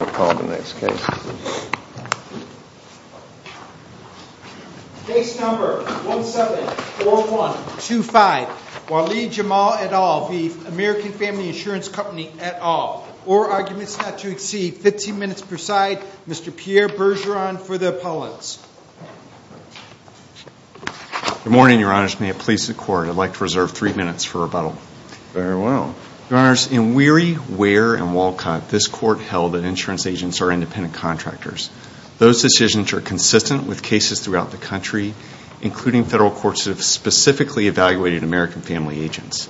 or arguments not to exceed 15 minutes per side. Mr. Pierre Bergeron for the appellants. Good morning, your honors. May it please the court, I'd like to reserve three minutes for rebuttal. Very well. Your honors, in Weary, Ware, and Walcott, this court held an insurance agents are independent contractors. Those decisions are consistent with cases throughout the country, including federal courts that have specifically evaluated American Family Agents.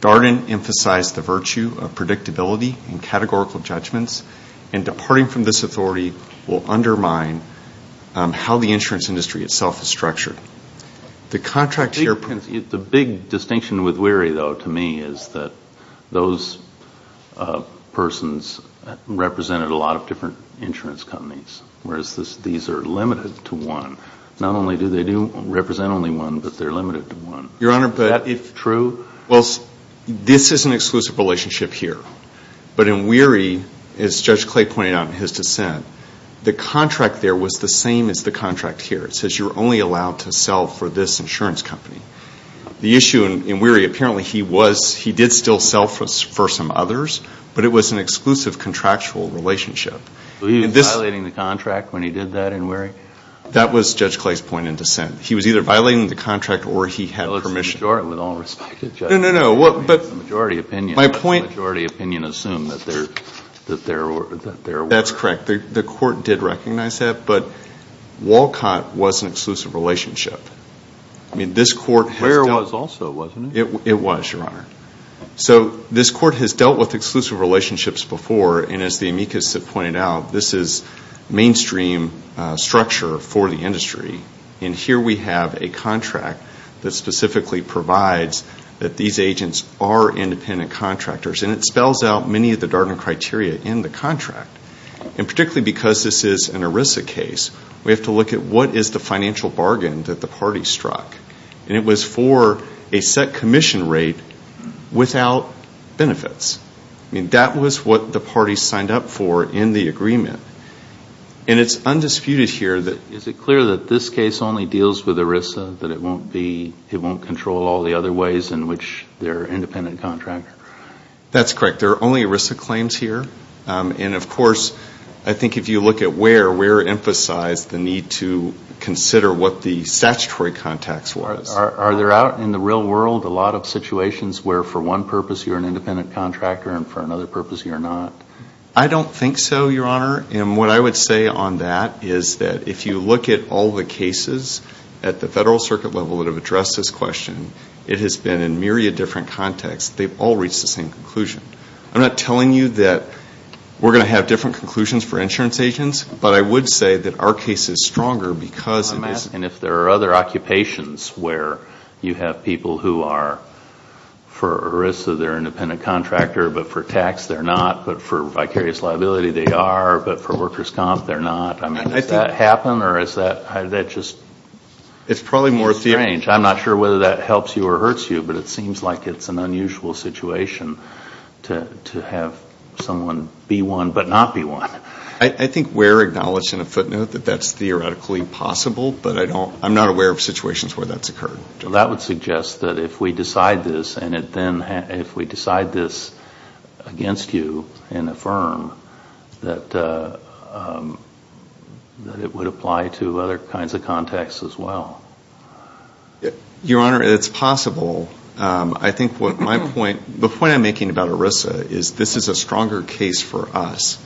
Darden emphasized the virtue of predictability and categorical judgments, and departing from this authority will undermine how the insurance industry itself is structured. The contract here... The big distinction with Weary, though, to me, is that those persons represented a lot of different insurance companies, whereas these are limited to one. Not only do they do represent only one, but they're limited to one. Your honor, but if true... Well, this is an exclusive relationship here. But in Weary, as Judge Clay pointed out in his dissent, the contract there was the same as the contract here. It says you're only allowed to sell for this insurance company. The issue in Weary, apparently he was, he did still sell for some others, but it was an exclusive contractual relationship. He was violating the contract when he did that in Weary? That was Judge Clay's point in dissent. He was either violating the contract or he had permission. Well, it's the majority with all respect. No, no, no. The majority opinion assumed that there were... That's correct. The court did recognize that, but Walcott was an exclusive relationship. I mean, this court... Ware was also, wasn't it? It was, your honor. So this court has dealt with exclusive relationships before, and as the amicus have pointed out, this is mainstream structure for the industry. And here we have a contract that specifically provides that these agents are independent contractors. And it spells out many of the Darden criteria in the contract. And particularly because this is an ERISA case, we have to look at what is the financial bargain that the party struck. And it was for a set commission rate without benefits. I mean, that was what the party signed up for in the agreement. And it's undisputed here that... Is it clear that this case only deals with ERISA, that it won't be, it won't control all the other ways in which they're independent contractors? That's correct. There are only ERISA claims here. And of course, I think if you look at Ware, Ware emphasized the need to consider what the statutory context was. Are there out in the real world a lot of situations where for one purpose you're an independent contractor and for another purpose you're not? I don't think so, your honor. And what I would say on that is that if you look at all the cases at the federal circuit level that have addressed this question, it has been in myriad different contexts. They've all reached the same conclusion. I'm not telling you that we're going to have different conclusions for insurance agents, but I would say that our case is stronger because it is... And if there are other occupations where you have people who are for ERISA, they're an independent contractor, but for tax they're not, but for vicarious liability they are, but for workers' comp they're not. I mean, does that happen or is that just... It's probably more... Strange. I'm not sure whether that helps you or hurts you, but it seems like it's an unusual situation to have someone be one but not be one. I think we're acknowledged in a footnote that that's theoretically possible, but I'm not aware of situations where that's occurred. Well, that would suggest that if we decide this and it then... If we decide this against you and affirm that it would apply to other kinds of contexts as well. Your honor, it's possible. I think what my point... The point I'm making about ERISA is this is a stronger case for us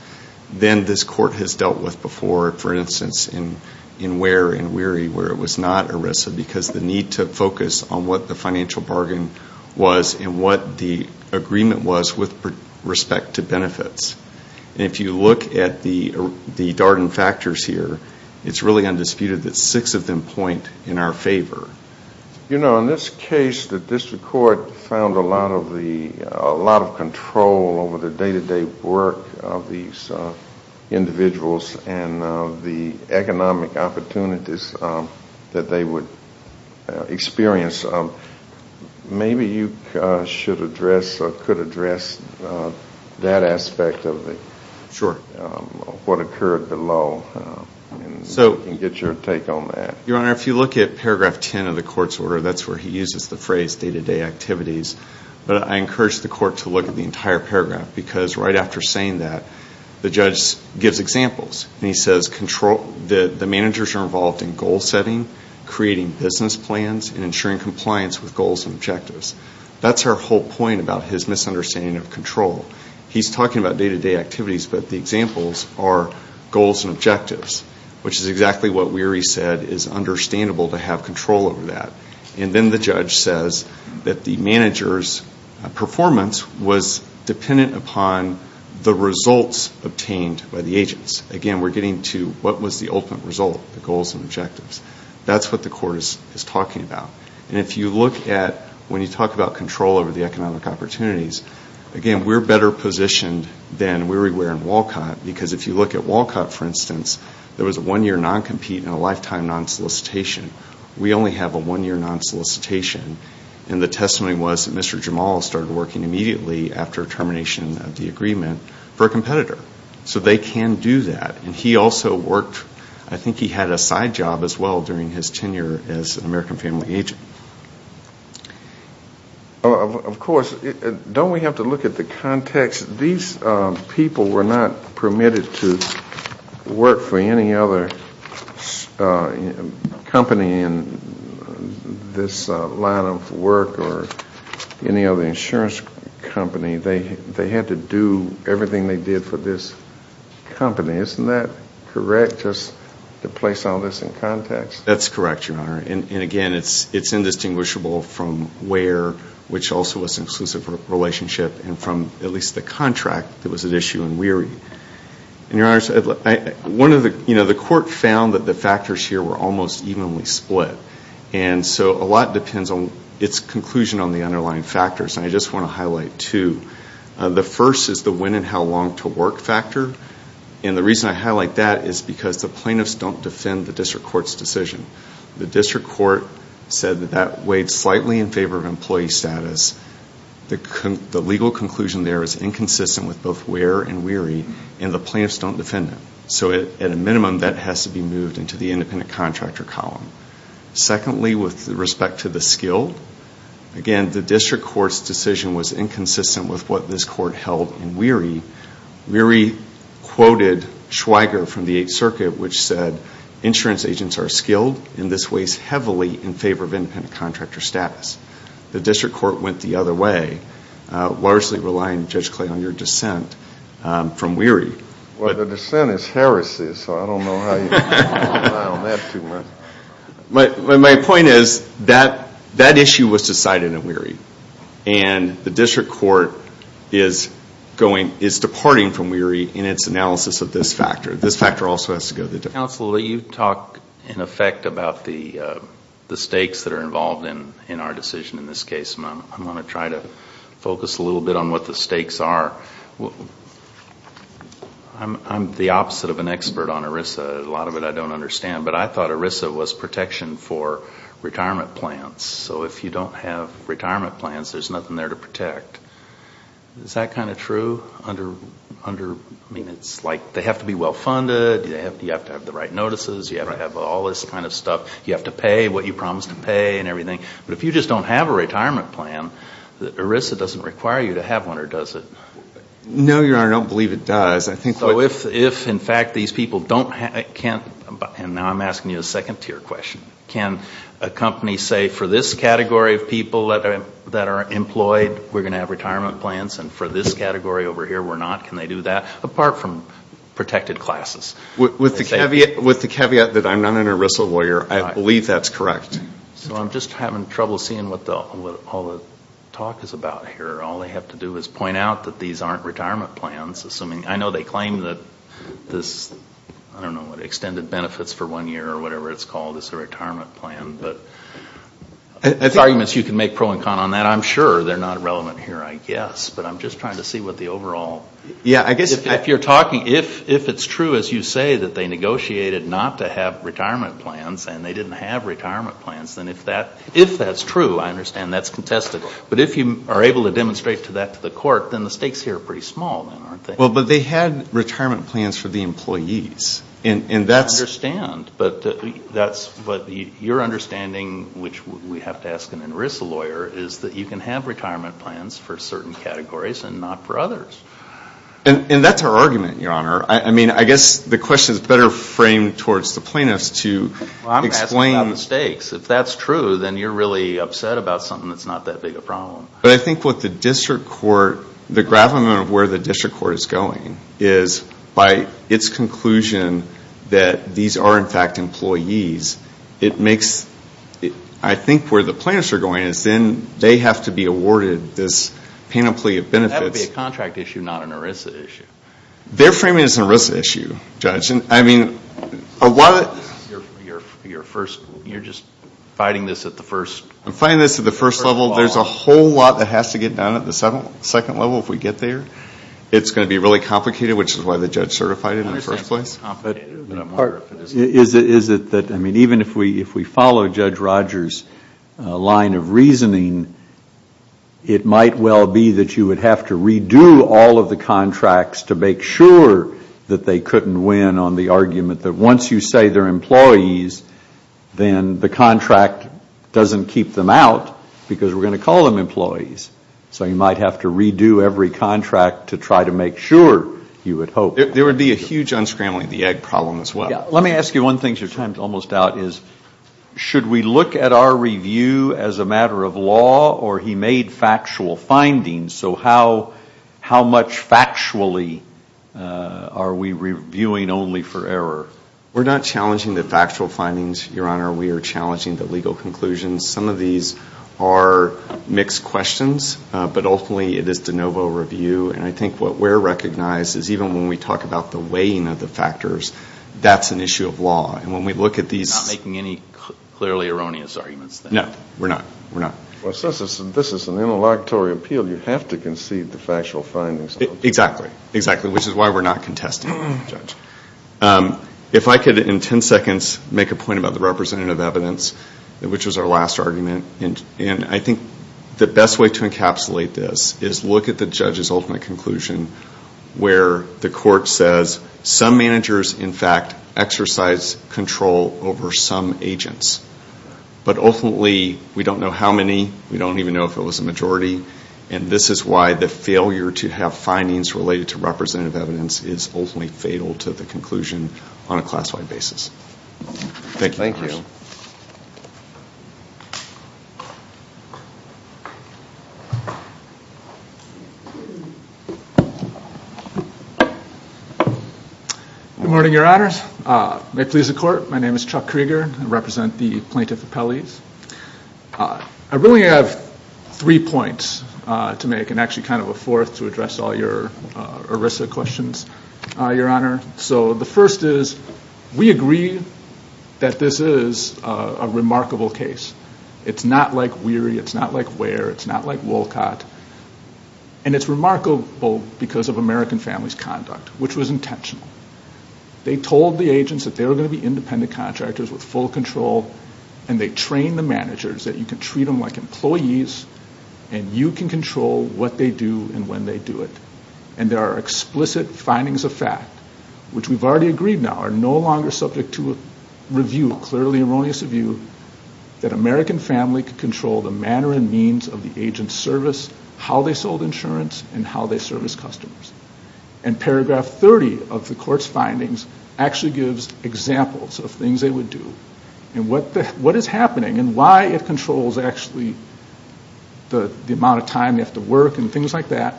than this court has dealt with before. For instance, in Ware and Weary where it was not ERISA because the need to focus on what the financial bargain was and what the agreement was with respect to benefits. And if you look at the Darden factors here, it's really undisputed that six of them point in our favor. You know, on this case, the district court found a lot of control over the day-to-day work of these individuals and the economic opportunities that they would experience. Maybe you should address or could address that aspect of what occurred below and get your take on that. Your honor, if you look at paragraph 10 of the court's order, that's where he uses the phrase day-to-day activities. But I encourage the court to look at the entire paragraph because right after saying that, the judge gives examples and he says the managers are involved in goal setting, creating business plans, and ensuring compliance with goals and objectives. That's our whole point about his misunderstanding of control. He's talking about day-to-day activities, but the examples are goals and objectives, which is exactly what Weary said is understandable to have control over that. And then the judge says that the manager's performance was dependent upon the results obtained by the agents. Again, we're getting to what was the ultimate result, the goals and objectives. That's what the court is talking about. And if you look at, when you talk about control over the economic opportunities, again, we're better positioned than Weary were in Walcott because if you look at Walcott, for instance, there was a one-year non-compete and a lifetime non-solicitation. We only have a one-year non-solicitation. And the testimony was that Mr. Jamal started working immediately after termination of the agreement for a competitor. So they can do that. And he also worked, I think he had a side job as well during his tenure as an American family agent. Of course, don't we have to look at the context? These people were not permitted to work for any other company in this line of work or any other insurance company. They had to do everything they did for this company. Isn't that correct, just to place all this in context? That's correct, Your Honor. And again, it's indistinguishable from Wear, which also was an exclusive relationship, and from at least the contract that was at issue in Weary. The court found that the factors here were almost evenly split. And so a lot depends on its conclusion on the underlying factors. And I just want to highlight two. The first is the when and how long to work factor. And the reason I highlight that is because the district court said that that weighed slightly in favor of employee status. The legal conclusion there is inconsistent with both Wear and Weary, and the plaintiffs don't defend it. So at a minimum, that has to be moved into the independent contractor column. Secondly, with respect to the skill, again, the district court's decision was inconsistent with what this court held in Weary. Weary quoted Schweiger from the Eighth Circuit, which said, insurance agents are skilled, and this weighs heavily in favor of independent contractor status. The district court went the other way, largely relying, Judge Clay, on your dissent from Weary. Well, the dissent is heresy, so I don't know how you can rely on that too much. My point is, that issue was decided in Weary. And the district court is departing from Weary in its analysis of this factor. This factor also has to go to the district court. Counsel, you talk, in effect, about the stakes that are involved in our decision in this case. I want to try to focus a little bit on what the stakes are. I'm the opposite of an expert on ERISA. A lot of it I don't understand. But I thought ERISA was protection for retirement plans. So if you don't have retirement plans, there's nothing there to protect. Is that kind of true? I mean, it's like, they have to be well funded, you have to have the right notices, you have to have all this kind of stuff, you have to pay what you promised to pay and everything. But if you just don't have a retirement plan, ERISA doesn't require you to have one, or does it? No, Your Honor, I don't believe it does. So if, in fact, these people don't have, and now I'm asking you a second tier question, can a company say, for this category of people that are employed, we're going to have retirement plans, and for this category over here, we're not, can they do that? Apart from protected classes. With the caveat that I'm not an ERISA lawyer, I believe that's correct. So I'm just having trouble seeing what all the talk is about here. All they have to do is point out that these aren't retirement plans, assuming, I know they claim that this, I don't know, extended benefits for one year or whatever it's called is a retirement plan, but there's arguments you can make pro and con on that. I'm sure they're not relevant here, I guess, but I'm just trying to see what the overall, if you're talking, if it's true, as you say, that they negotiated not to have retirement plans and they didn't have retirement plans, then if that's true, I understand that's contested, but if you are able to demonstrate that to the court, then the stakes here are pretty small, then, aren't they? Well, but they had retirement plans for the employees, and that's, I understand, but that's what your understanding, which we have to ask an ERISA lawyer, is that you can have retirement plans for certain categories and not for others. And that's our argument, Your Honor. I mean, I guess the question is better framed towards the plaintiffs to explain. Well, I'm asking about the stakes. If that's true, then you're really upset about something that's not that big a problem. But I think what the district court, the gravamen of where the district court is going is by its conclusion that these are, in fact, employees, it makes, I think, where the plaintiffs are going is then they have to be awarded this panoply of benefits. That would be a contract issue, not an ERISA issue. Their framing is an ERISA issue, Judge. And I mean, a lot of... You're just fighting this at the first... I'm fighting this at the first level. There's a whole lot that has to get done at the second level if we get there. It's going to be really complicated, which is why the judge certified it in the first place. Is it that, I mean, even if we follow Judge Rogers' line of reasoning, it might well be that you would have to redo all of the contracts to make sure that they couldn't win on the argument that once you say they're employees, then the contract doesn't keep them out because we're going to call them employees. So you might have to redo every contract to try to make sure you would hope. There would be a huge unscrambling the egg problem as well. Let me ask you one thing. Your time is almost out. Should we look at our review as a matter of law or he made factual findings? So how much factually are we reviewing only for error? We're not challenging the factual findings, Your Honor. We are challenging the legal conclusions. Some of these are mixed questions, but ultimately it is de novo review. And I think what we're recognizing is even when we talk about the weighing of the factors, that's an issue of law. And when we look at these... You're not making any clearly erroneous arguments then? No, we're not. We're not. Well, since this is an interlocutory appeal, you have to concede the factual findings. Exactly. Exactly. Which is why we're not contesting the judge. If I could, in ten seconds, make a point about the representative evidence, which was our last argument, and I think the best way to encapsulate this is look at the judge's ultimate conclusion, where the court says some managers, in fact, exercise control over some agents. But ultimately, we don't know how many. We don't even know if it was a majority. And this is why the failure to have findings related to representative evidence is ultimately fatal to the conclusion on a class-wide basis. Thank you. Good morning, Your Honors. May it please the court, my name is Chuck Krieger. I represent the Plaintiff Appellees. I really have three points to make, and actually kind of a fourth to address all your ERISA questions, Your Honor. So the first is, we agree that this is a remarkable case. It's not like Weary. It's not like Ware. It's not like Wolcott. And it's remarkable because of American Family's conduct, which was intentional. They told the agents that they were going to be independent contractors with full control, and they trained the managers that you can treat them like employees, and you can control what they do and when they do it. And there are explicit findings of fact, which we've already agreed now are no longer subject to a review, clearly erroneous review, that American Family could have the agents service how they sold insurance and how they service customers. And paragraph 30 of the court's findings actually gives examples of things they would do. And what is happening and why it controls actually the amount of time they have to work and things like that,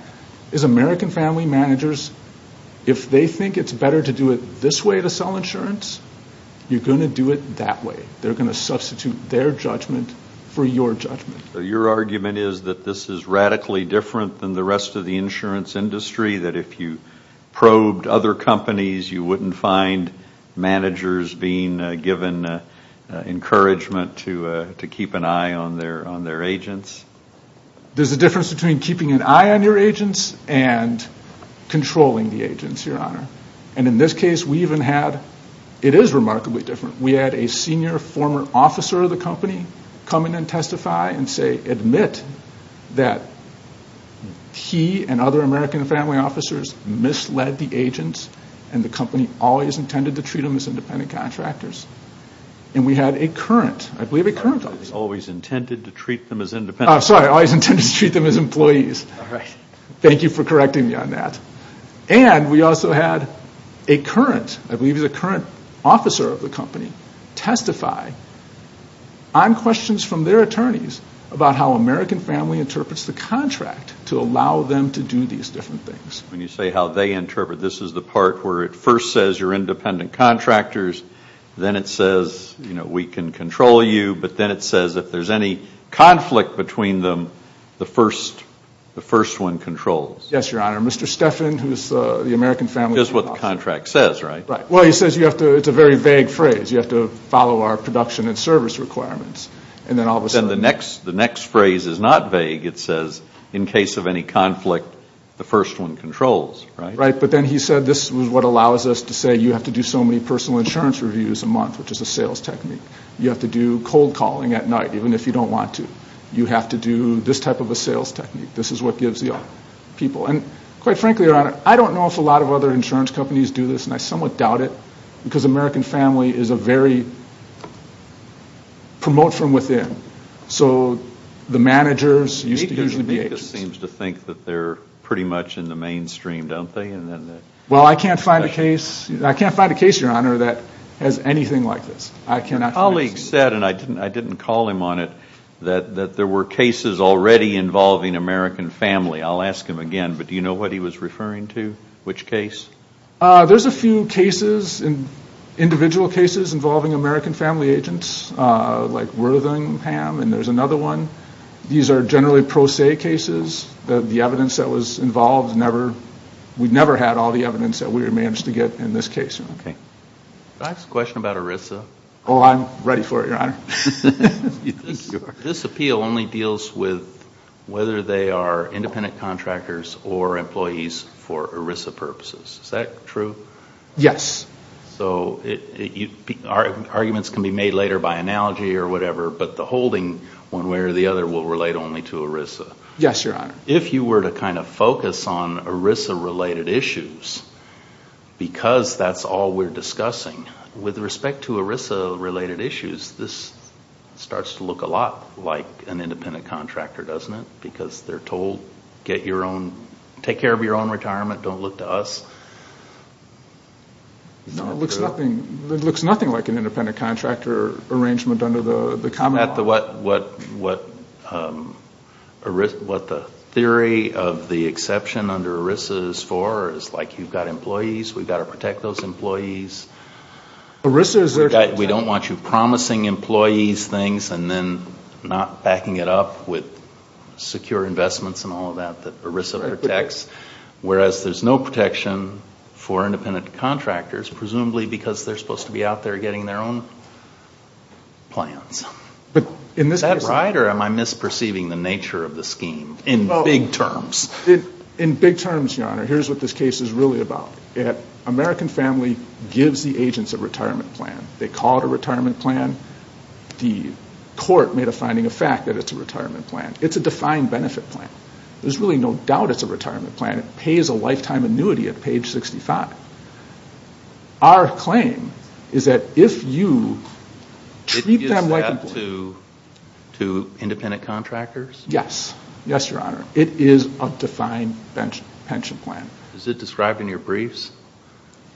is American Family managers, if they think it's better to do it this way to sell insurance, you're going to do it that way. They're going to substitute their judgment for your judgment. Your argument is that this is radically different than the rest of the insurance industry, that if you probed other companies, you wouldn't find managers being given encouragement to keep an eye on their agents? There's a difference between keeping an eye on your agents and controlling the agents, your honor. And in this case, we even had, it is remarkably different, we had a senior former officer of the company come in and testify and say, admit that he and other American Family officers misled the agents and the company always intended to treat them as independent contractors. And we had a current, I believe a current officer. Always intended to treat them as independent. I'm sorry, always intended to treat them as employees. Thank you for correcting me on that. And we also had a current, I believe a current officer of the company testify on questions from their attorneys about how American Family interprets the contract to allow them to do these different things. When you say how they interpret, this is the part where it first says you're independent contractors, then it says, you know, we can control you, but then it says if there's any conflict between them, the first, the first one controls. Yes, your honor. Mr. Stephan, who's the American Family. Just what the contract says, right? Right. Well, he says you have to, it's a very vague phrase. You have to follow our production and service requirements. And then all of a sudden. The next phrase is not vague. It says in case of any conflict, the first one controls, right? Right. But then he said this is what allows us to say you have to do so many personal insurance reviews a month, which is a sales technique. You have to do cold calling at night, even if you don't want to. You have to do this type of a sales technique. This is what gives you people. And quite frankly, your honor, I don't know if a lot of other insurance companies do this, and I somewhat doubt it because American Family is a very promote from within. So the managers used to usually be agents. It seems to think that they're pretty much in the mainstream, don't they? Well, I can't find a case. I can't find a case, your honor, that has anything like this. I cannot. My colleague said, and I didn't call him on it, that there were cases already involving American Family. I'll ask him again, but do you know what he was referring to? Which case? There's a few cases, individual cases, involving American Family agents, like Worthingham, and there's another one. These are generally pro se cases. The evidence that was involved, we never had all the evidence that we managed to get in this case. Can I ask a question about ERISA? Oh, I'm ready for it, your honor. This appeal only deals with whether they are independent contractors or employees for ERISA purposes. Is that true? Yes. So arguments can be made later by analogy or whatever, but the holding, one way or the other, will relate only to ERISA. Yes, your honor. If you were to kind of focus on ERISA related issues, because that's all we're discussing, with respect to ERISA related issues, this starts to look a lot like an independent contractor, doesn't it? Because they're told, take care of your own retirement, don't look to us. No, it looks nothing like an independent contractor arrangement under the common law. Isn't that what the theory of the exception under ERISA is for? It's like you've got employees, we've got to protect those employees. We don't want you promising employees things and then not backing it up with secure investments and all of that that ERISA protects. Whereas there's no protection for independent contractors, presumably because they're supposed to be out there getting their own plans. Is that right or am I misperceiving the nature of the scheme in big terms? In big terms, your honor, here's what this case is really about. American Family gives the agents a retirement plan. They call it a retirement plan. The court made a finding of fact that it's a retirement plan. It's a defined benefit plan. There's really no doubt it's a retirement plan. It pays a lifetime annuity at page 65. Our claim is that if you treat them like employees. It gives that to independent contractors? Yes, yes, your honor. It is a defined pension plan. Is it described in your briefs?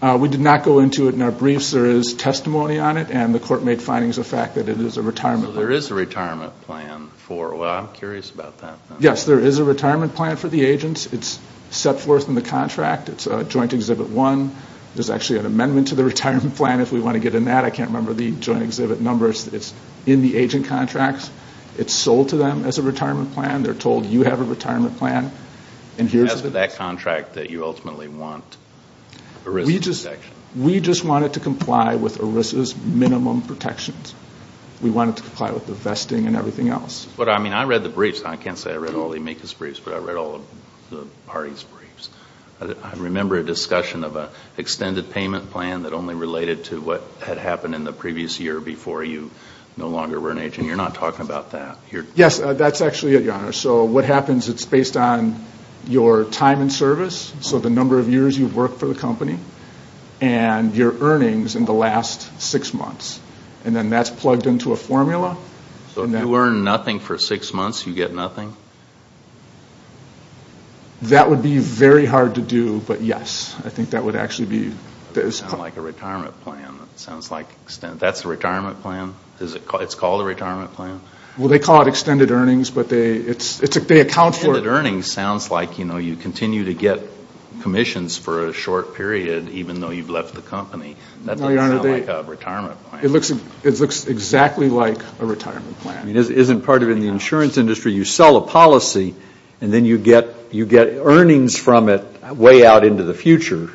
We did not go into it in our briefs. There is testimony on it and the court made findings of fact that it is a retirement plan. So there is a retirement plan for, well, I'm curious about that. Yes, there is a retirement plan for the agents. It's set forth in the contract. It's a joint exhibit one. There's actually an amendment to the retirement plan if we want to get in that. I can't remember the joint exhibit numbers. It's in the agent contracts. It's sold to them as a retirement plan. They're told you have a retirement plan. As for that contract that you ultimately want ERISA protection? We just wanted to comply with ERISA's minimum protections. We wanted to comply with the vesting and everything else. I read the briefs. I can't say I read all the amicus briefs, but I read all the parties' briefs. I remember a discussion of an extended payment plan that only related to what had happened in the previous year before you no longer were an agent. You're not talking about that. Yes, that's actually it, your honor. So what happens, it's based on your time in service, so the number of years you've worked for the company, And then that's plugged into a formula. So if you earn nothing for six months, you get nothing? That would be very hard to do, but yes. I think that would actually be... Sounds like a retirement plan. That's a retirement plan? It's called a retirement plan? Well, they call it extended earnings, but they account for... Extended earnings sounds like you continue to get commissions for a short period even though you've left the company. That doesn't sound like a retirement plan. It looks exactly like a retirement plan. It isn't part of the insurance industry. You sell a policy, and then you get earnings from it way out into the future,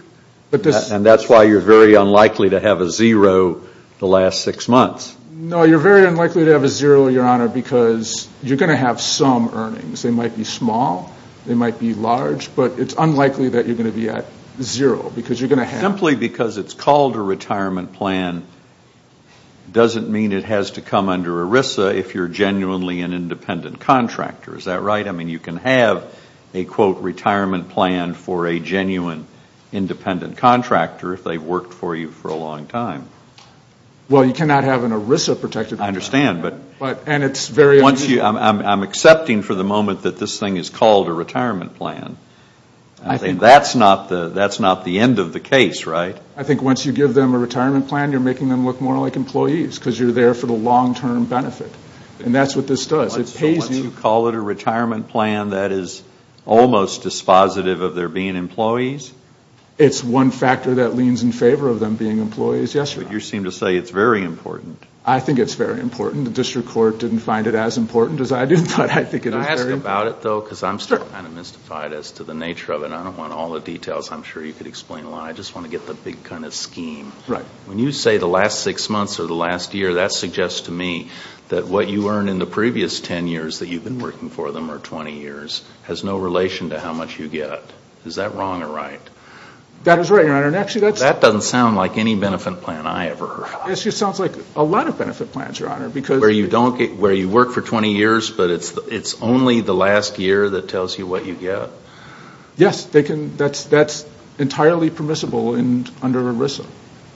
and that's why you're very unlikely to have a zero the last six months. No, you're very unlikely to have a zero, your honor, because you're going to have some earnings. They might be small, they might be large, but it's unlikely that you're going to be at zero because you're going to have... Simply because it's called a retirement plan doesn't mean it has to come under ERISA if you're genuinely an independent contractor. Is that right? I mean, you can have a, quote, retirement plan for a genuine independent contractor if they've worked for you for a long time. Well, you cannot have an ERISA protected... I understand, but... And it's very... I'm accepting for the moment that this thing is called a retirement plan. That's not the end of the case, right? I think once you give them a retirement plan, you're making them look more like employees because you're there for the long-term benefit, and that's what this does. So once you call it a retirement plan, that is almost dispositive of there being employees? It's one factor that leans in favor of them being employees, yes, your honor. But you seem to say it's very important. I think it's very important. The district court didn't find it as important as I did, but I think it is very important. Can I ask about it, though? Sure. Because I'm still kind of mystified as to the nature of it. I don't want all the details. I'm sure you could explain why. I just want to get the big kind of scheme. Right. When you say the last 6 months or the last year, that suggests to me that what you earned in the previous 10 years that you've been working for them, or 20 years, has no relation to how much you get. Is that wrong or right? That is right, your honor. That doesn't sound like any benefit plan I ever heard. It just sounds like a lot of benefit plans, your honor, because... Where you work for 20 years, but it's only the last year that tells you what you get? Yes. That's entirely permissible under ERISA.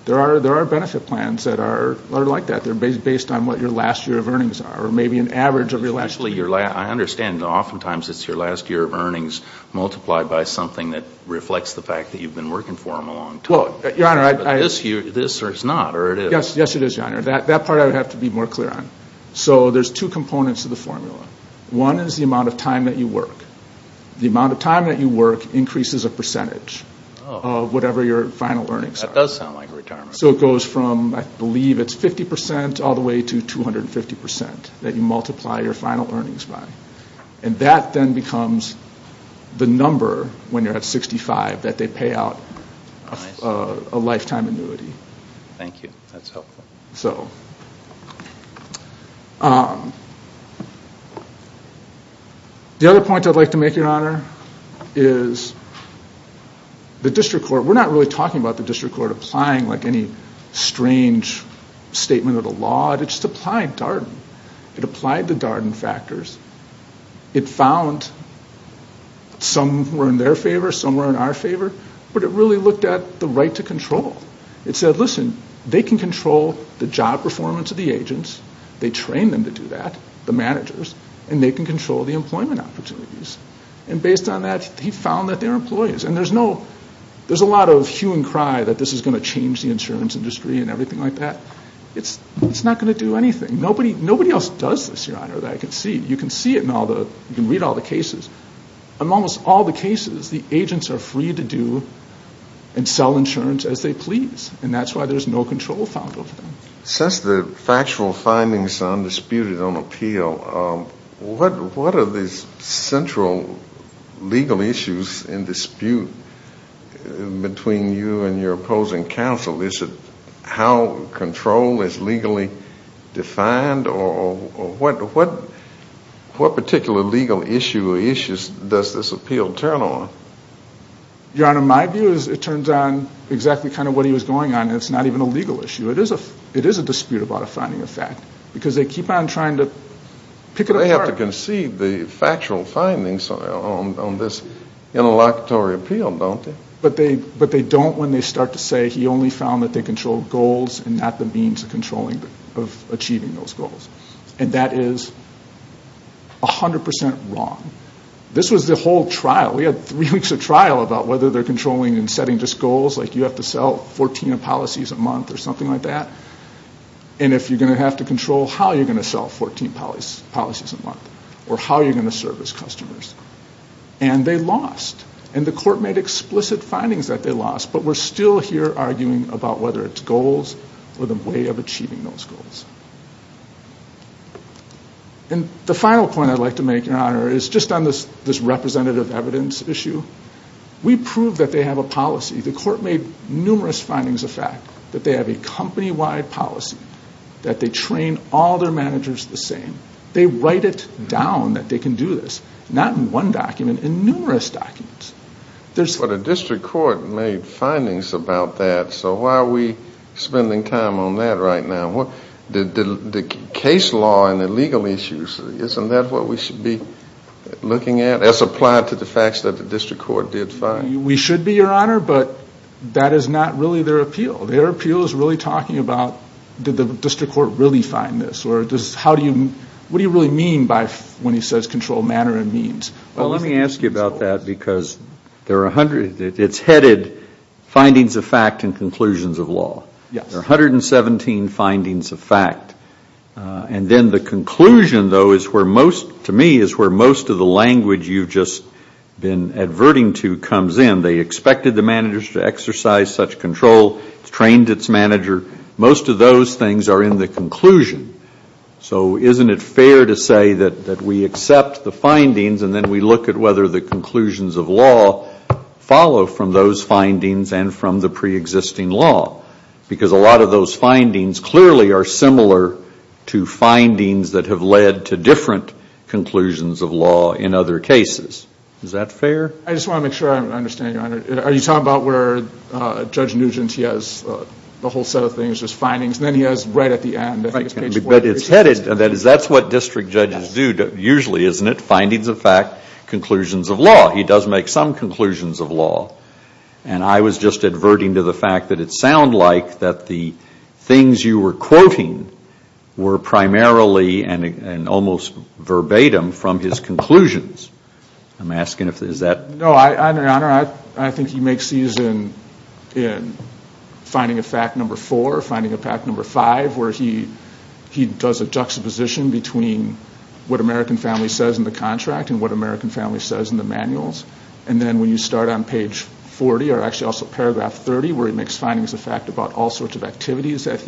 There are benefit plans that are like that. They're based on what your last year of earnings are, or maybe an average of your last year. I understand. Oftentimes, it's your last year of earnings multiplied by something that reflects the fact that you've been working for them a long time. Your honor, I... This year, it's not, or it is? Yes, it is, your honor. That part I would have to be more clear on. There's two components to the formula. One is the amount of time that you work. The amount of time that you work increases a percentage of whatever your final earnings are. That does sound like retirement. It goes from, I believe, it's 50% all the way to 250% that you multiply your final earnings by. That then becomes the number, when you're at 65, that they pay out a lifetime annuity. Thank you. That's helpful. The other point I'd like to make, your honor, is the district court, we're not really talking about the district court applying like any strange statement of the law. It just applied Darden. It applied the Darden factors. It found some were in their favor, some were in our favor, but it really looked at the right to control. It said, listen, they can control the job performance of the agents. They train them to do that, the managers, and they can control the employment opportunities. And based on that, he found that they're employees. And there's a lot of hue and cry that this is going to change the insurance industry and everything like that. It's not going to do anything. Nobody else does this, your honor, that I can see. You can see it in all the, you can read all the cases. Amongst all the cases, the agents are free to do and sell insurance as they please, and that's why there's no control found over them. Since the factual findings are undisputed on appeal, what are the central legal issues in dispute between you and your opposing counsel? Is it how control is legally defined, or what particular legal issue or issues does this appeal turn on? Your honor, my view is it turns on exactly kind of what he was going on, and it's not even a legal issue. It is a dispute about a finding of fact, because they keep on trying to pick it apart. They have to concede the factual findings on this interlocutory appeal, don't they? But they don't when they start to say he only found that they controlled goals and not the means of achieving those goals, and that is 100% wrong. This was the whole trial. We had three weeks of trial about whether they're controlling and setting just goals, like you have to sell 14 policies a month or something like that, and if you're going to have to control how you're going to sell 14 policies a month or how you're going to service customers, and they lost. And the court made explicit findings that they lost, but we're still here arguing about whether it's goals or the way of achieving those goals. And the final point I'd like to make, your honor, is just on this representative evidence issue. We proved that they have a policy. The court made numerous findings of fact that they have a company-wide policy, that they train all their managers the same. They write it down that they can do this, not in one document, in numerous documents. But a district court made findings about that, so why are we spending time on that right now? The case law and the legal issues, isn't that what we should be looking at, as applied to the facts that the district court did find? We should be, your honor, but that is not really their appeal. Their appeal is really talking about did the district court really find this or what do you really mean when he says controlled manner and means? Well, let me ask you about that because it's headed findings of fact and conclusions of law. There are 117 findings of fact. And then the conclusion, though, to me, is where most of the language you've just been adverting to comes in. They expected the managers to exercise such control. It's trained its manager. Most of those things are in the conclusion. So isn't it fair to say that we accept the findings and then we look at whether the conclusions of law follow from those findings and from the preexisting law because a lot of those findings clearly are similar to findings that have led to different conclusions of law in other cases. Is that fair? I just want to make sure I understand, your honor. Are you talking about where Judge Nugent, he has a whole set of things, just findings, and then he has right at the end, I think it's page 40. But it's headed. That's what district judges do usually, isn't it? Findings of fact, conclusions of law. He does make some conclusions of law. And I was just adverting to the fact that it sounded like that the things you were quoting were primarily and almost verbatim from his conclusions. I'm asking if that is that. No, your honor. I think he makes these in finding of fact number four, finding of fact number five, where he does a juxtaposition between what American Family says in the contract and what American Family says in the manuals. And then when you start on page 40, or actually also paragraph 30, where he makes findings of fact about all sorts of activities that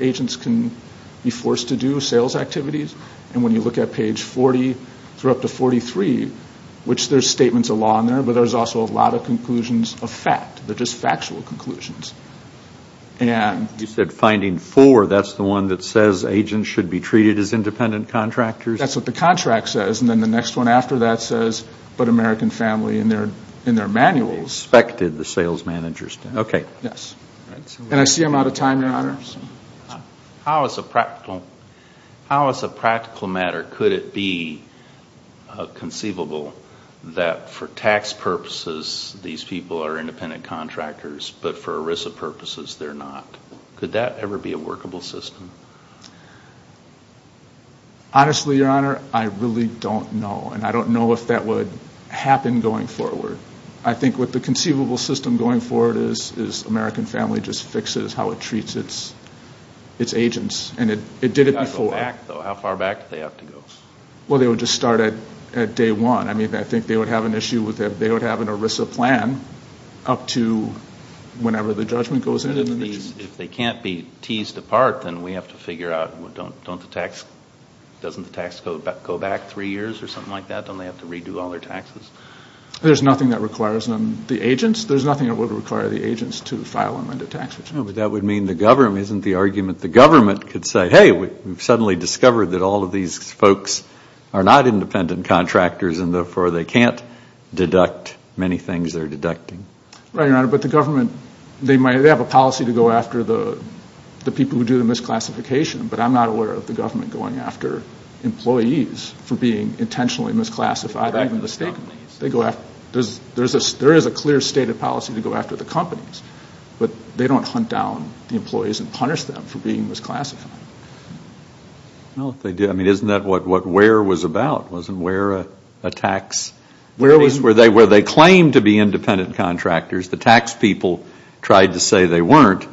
agents can be forced to do, sales activities, and when you look at page 40 through up to 43, which there's statements of law in there, but there's also a lot of conclusions of fact. They're just factual conclusions. You said finding four. That's the one that says agents should be treated as independent contractors? That's what the contract says. And then the next one after that says, but American Family in their manuals. Expected the sales managers to. Okay. Yes. And I see I'm out of time, your honor. How as a practical matter could it be conceivable that for tax purposes these people are independent contractors, but for ERISA purposes they're not? Could that ever be a workable system? Honestly, your honor, I really don't know. And I don't know if that would happen going forward. I think what the conceivable system going forward is American Family just fixes how it treats its agents, and it did it before. How far back do they have to go? Well, they would just start at day one. I mean, I think they would have an ERISA plan up to whenever the judgment goes in. If they can't be teased apart, then we have to figure out, doesn't the tax go back three years or something like that? Don't they have to redo all their taxes? There's nothing that requires them. The agents, there's nothing that would require the agents to file amended tax returns. But that would mean the government, isn't the argument the government could say, hey, we've suddenly discovered that all of these folks are not independent contractors and therefore they can't deduct many things they're deducting? Right, your honor, but the government, they might have a policy to go after the people who do the misclassification, but I'm not aware of the government going after employees for being intentionally misclassified. There is a clear state of policy to go after the companies, but they don't hunt down the employees and punish them for being misclassified. Isn't that what WARE was about? Wasn't WARE a tax? Where they claimed to be independent contractors, the tax people tried to say they weren't,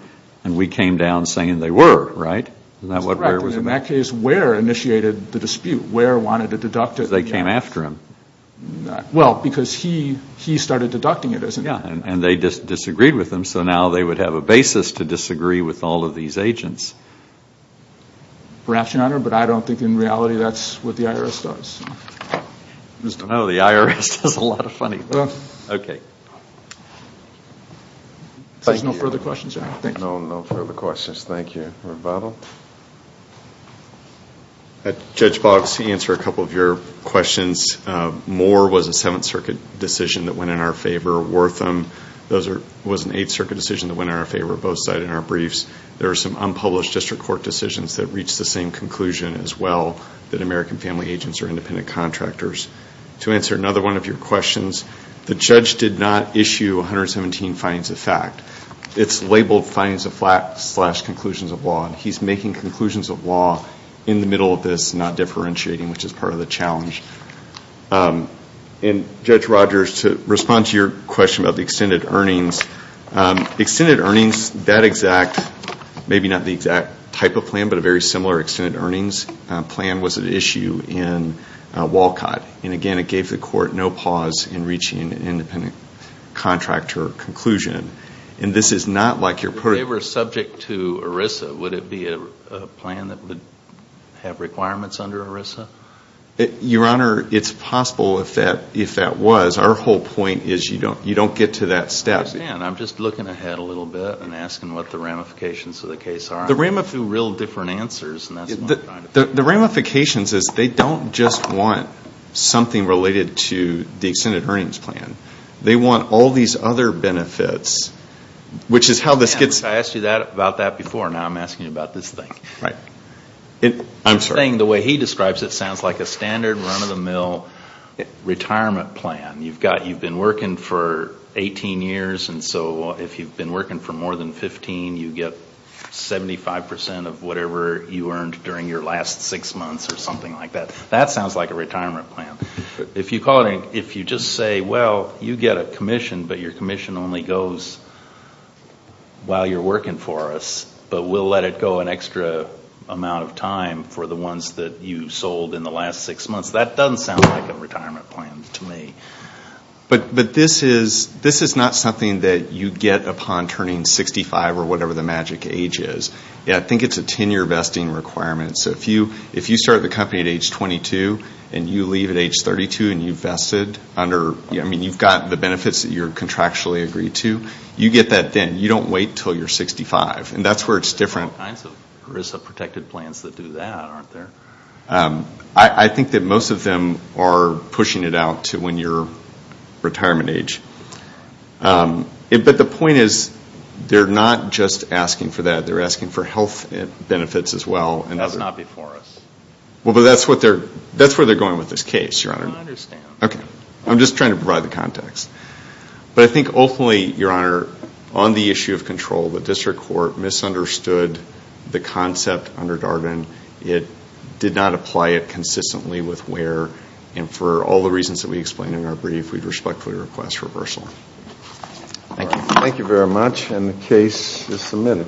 and we came down saying they were, right? In that case, WARE initiated the dispute. WARE wanted to deduct it. Because they came after him. Well, because he started deducting it. And they disagreed with him, so now they would have a basis to disagree with all of these agents. Perhaps, your honor, but I don't think in reality that's what the IRS does. No, the IRS does a lot of funny stuff. Okay. There's no further questions, right? No, no further questions. Thank you. Rebuttal? Judge Boggs, to answer a couple of your questions, Moore was a Seventh Circuit decision that went in our favor. Wortham was an Eighth Circuit decision that went in our favor, both cited in our briefs. There were some unpublished district court decisions that reached the same conclusion as well, that American family agents are independent contractors. To answer another one of your questions, the judge did not issue 117 findings of fact. It's labeled findings of fact slash conclusions of law, and he's making conclusions of law in the middle of this, not differentiating, which is part of the challenge. And, Judge Rogers, to respond to your question about the extended earnings, extended earnings, that exact, maybe not the exact type of plan, but a very similar extended earnings plan was at issue in Walcott. And, again, it gave the court no pause in reaching an independent contractor conclusion. And this is not like your protocol. If they were subject to ERISA, would it be a plan that would have requirements under ERISA? Your Honor, it's possible if that was. Our whole point is you don't get to that step. I understand. I'm just looking ahead a little bit and asking what the ramifications of the case are. The ramifications are real different answers. The ramifications is they don't just want something related to the extended earnings plan. They want all these other benefits, which is how this gets... I asked you about that before. Now I'm asking you about this thing. I'm sorry. The thing, the way he describes it, sounds like a standard run-of-the-mill retirement plan. You've been working for 18 years, and so if you've been working for more than 15, you get 75% of whatever you earned during your last six months or something like that. That sounds like a retirement plan. If you just say, well, you get a commission, but your commission only goes while you're working for us, but we'll let it go an extra amount of time for the ones that you sold in the last six months, that doesn't sound like a retirement plan to me. But this is not something that you get upon turning 65 or whatever the magic age is. I think it's a 10-year vesting requirement. So if you start the company at age 22, and you leave at age 32, and you've vested under... contractually agreed to, you get that then. You don't wait until you're 65. And that's where it's different. There's all kinds of HRSA-protected plans that do that, aren't there? I think that most of them are pushing it out to when you're retirement age. But the point is, they're not just asking for that. They're asking for health benefits as well. That's not before us. Well, but that's where they're going with this case, Your Honor. I understand. Okay. I'm just trying to provide the context. But I think ultimately, Your Honor, on the issue of control, the district court misunderstood the concept under Darden. It did not apply it consistently with where, and for all the reasons that we explained in our brief, we'd respectfully request reversal. Thank you. Thank you very much, and the case is submitted. Thank you.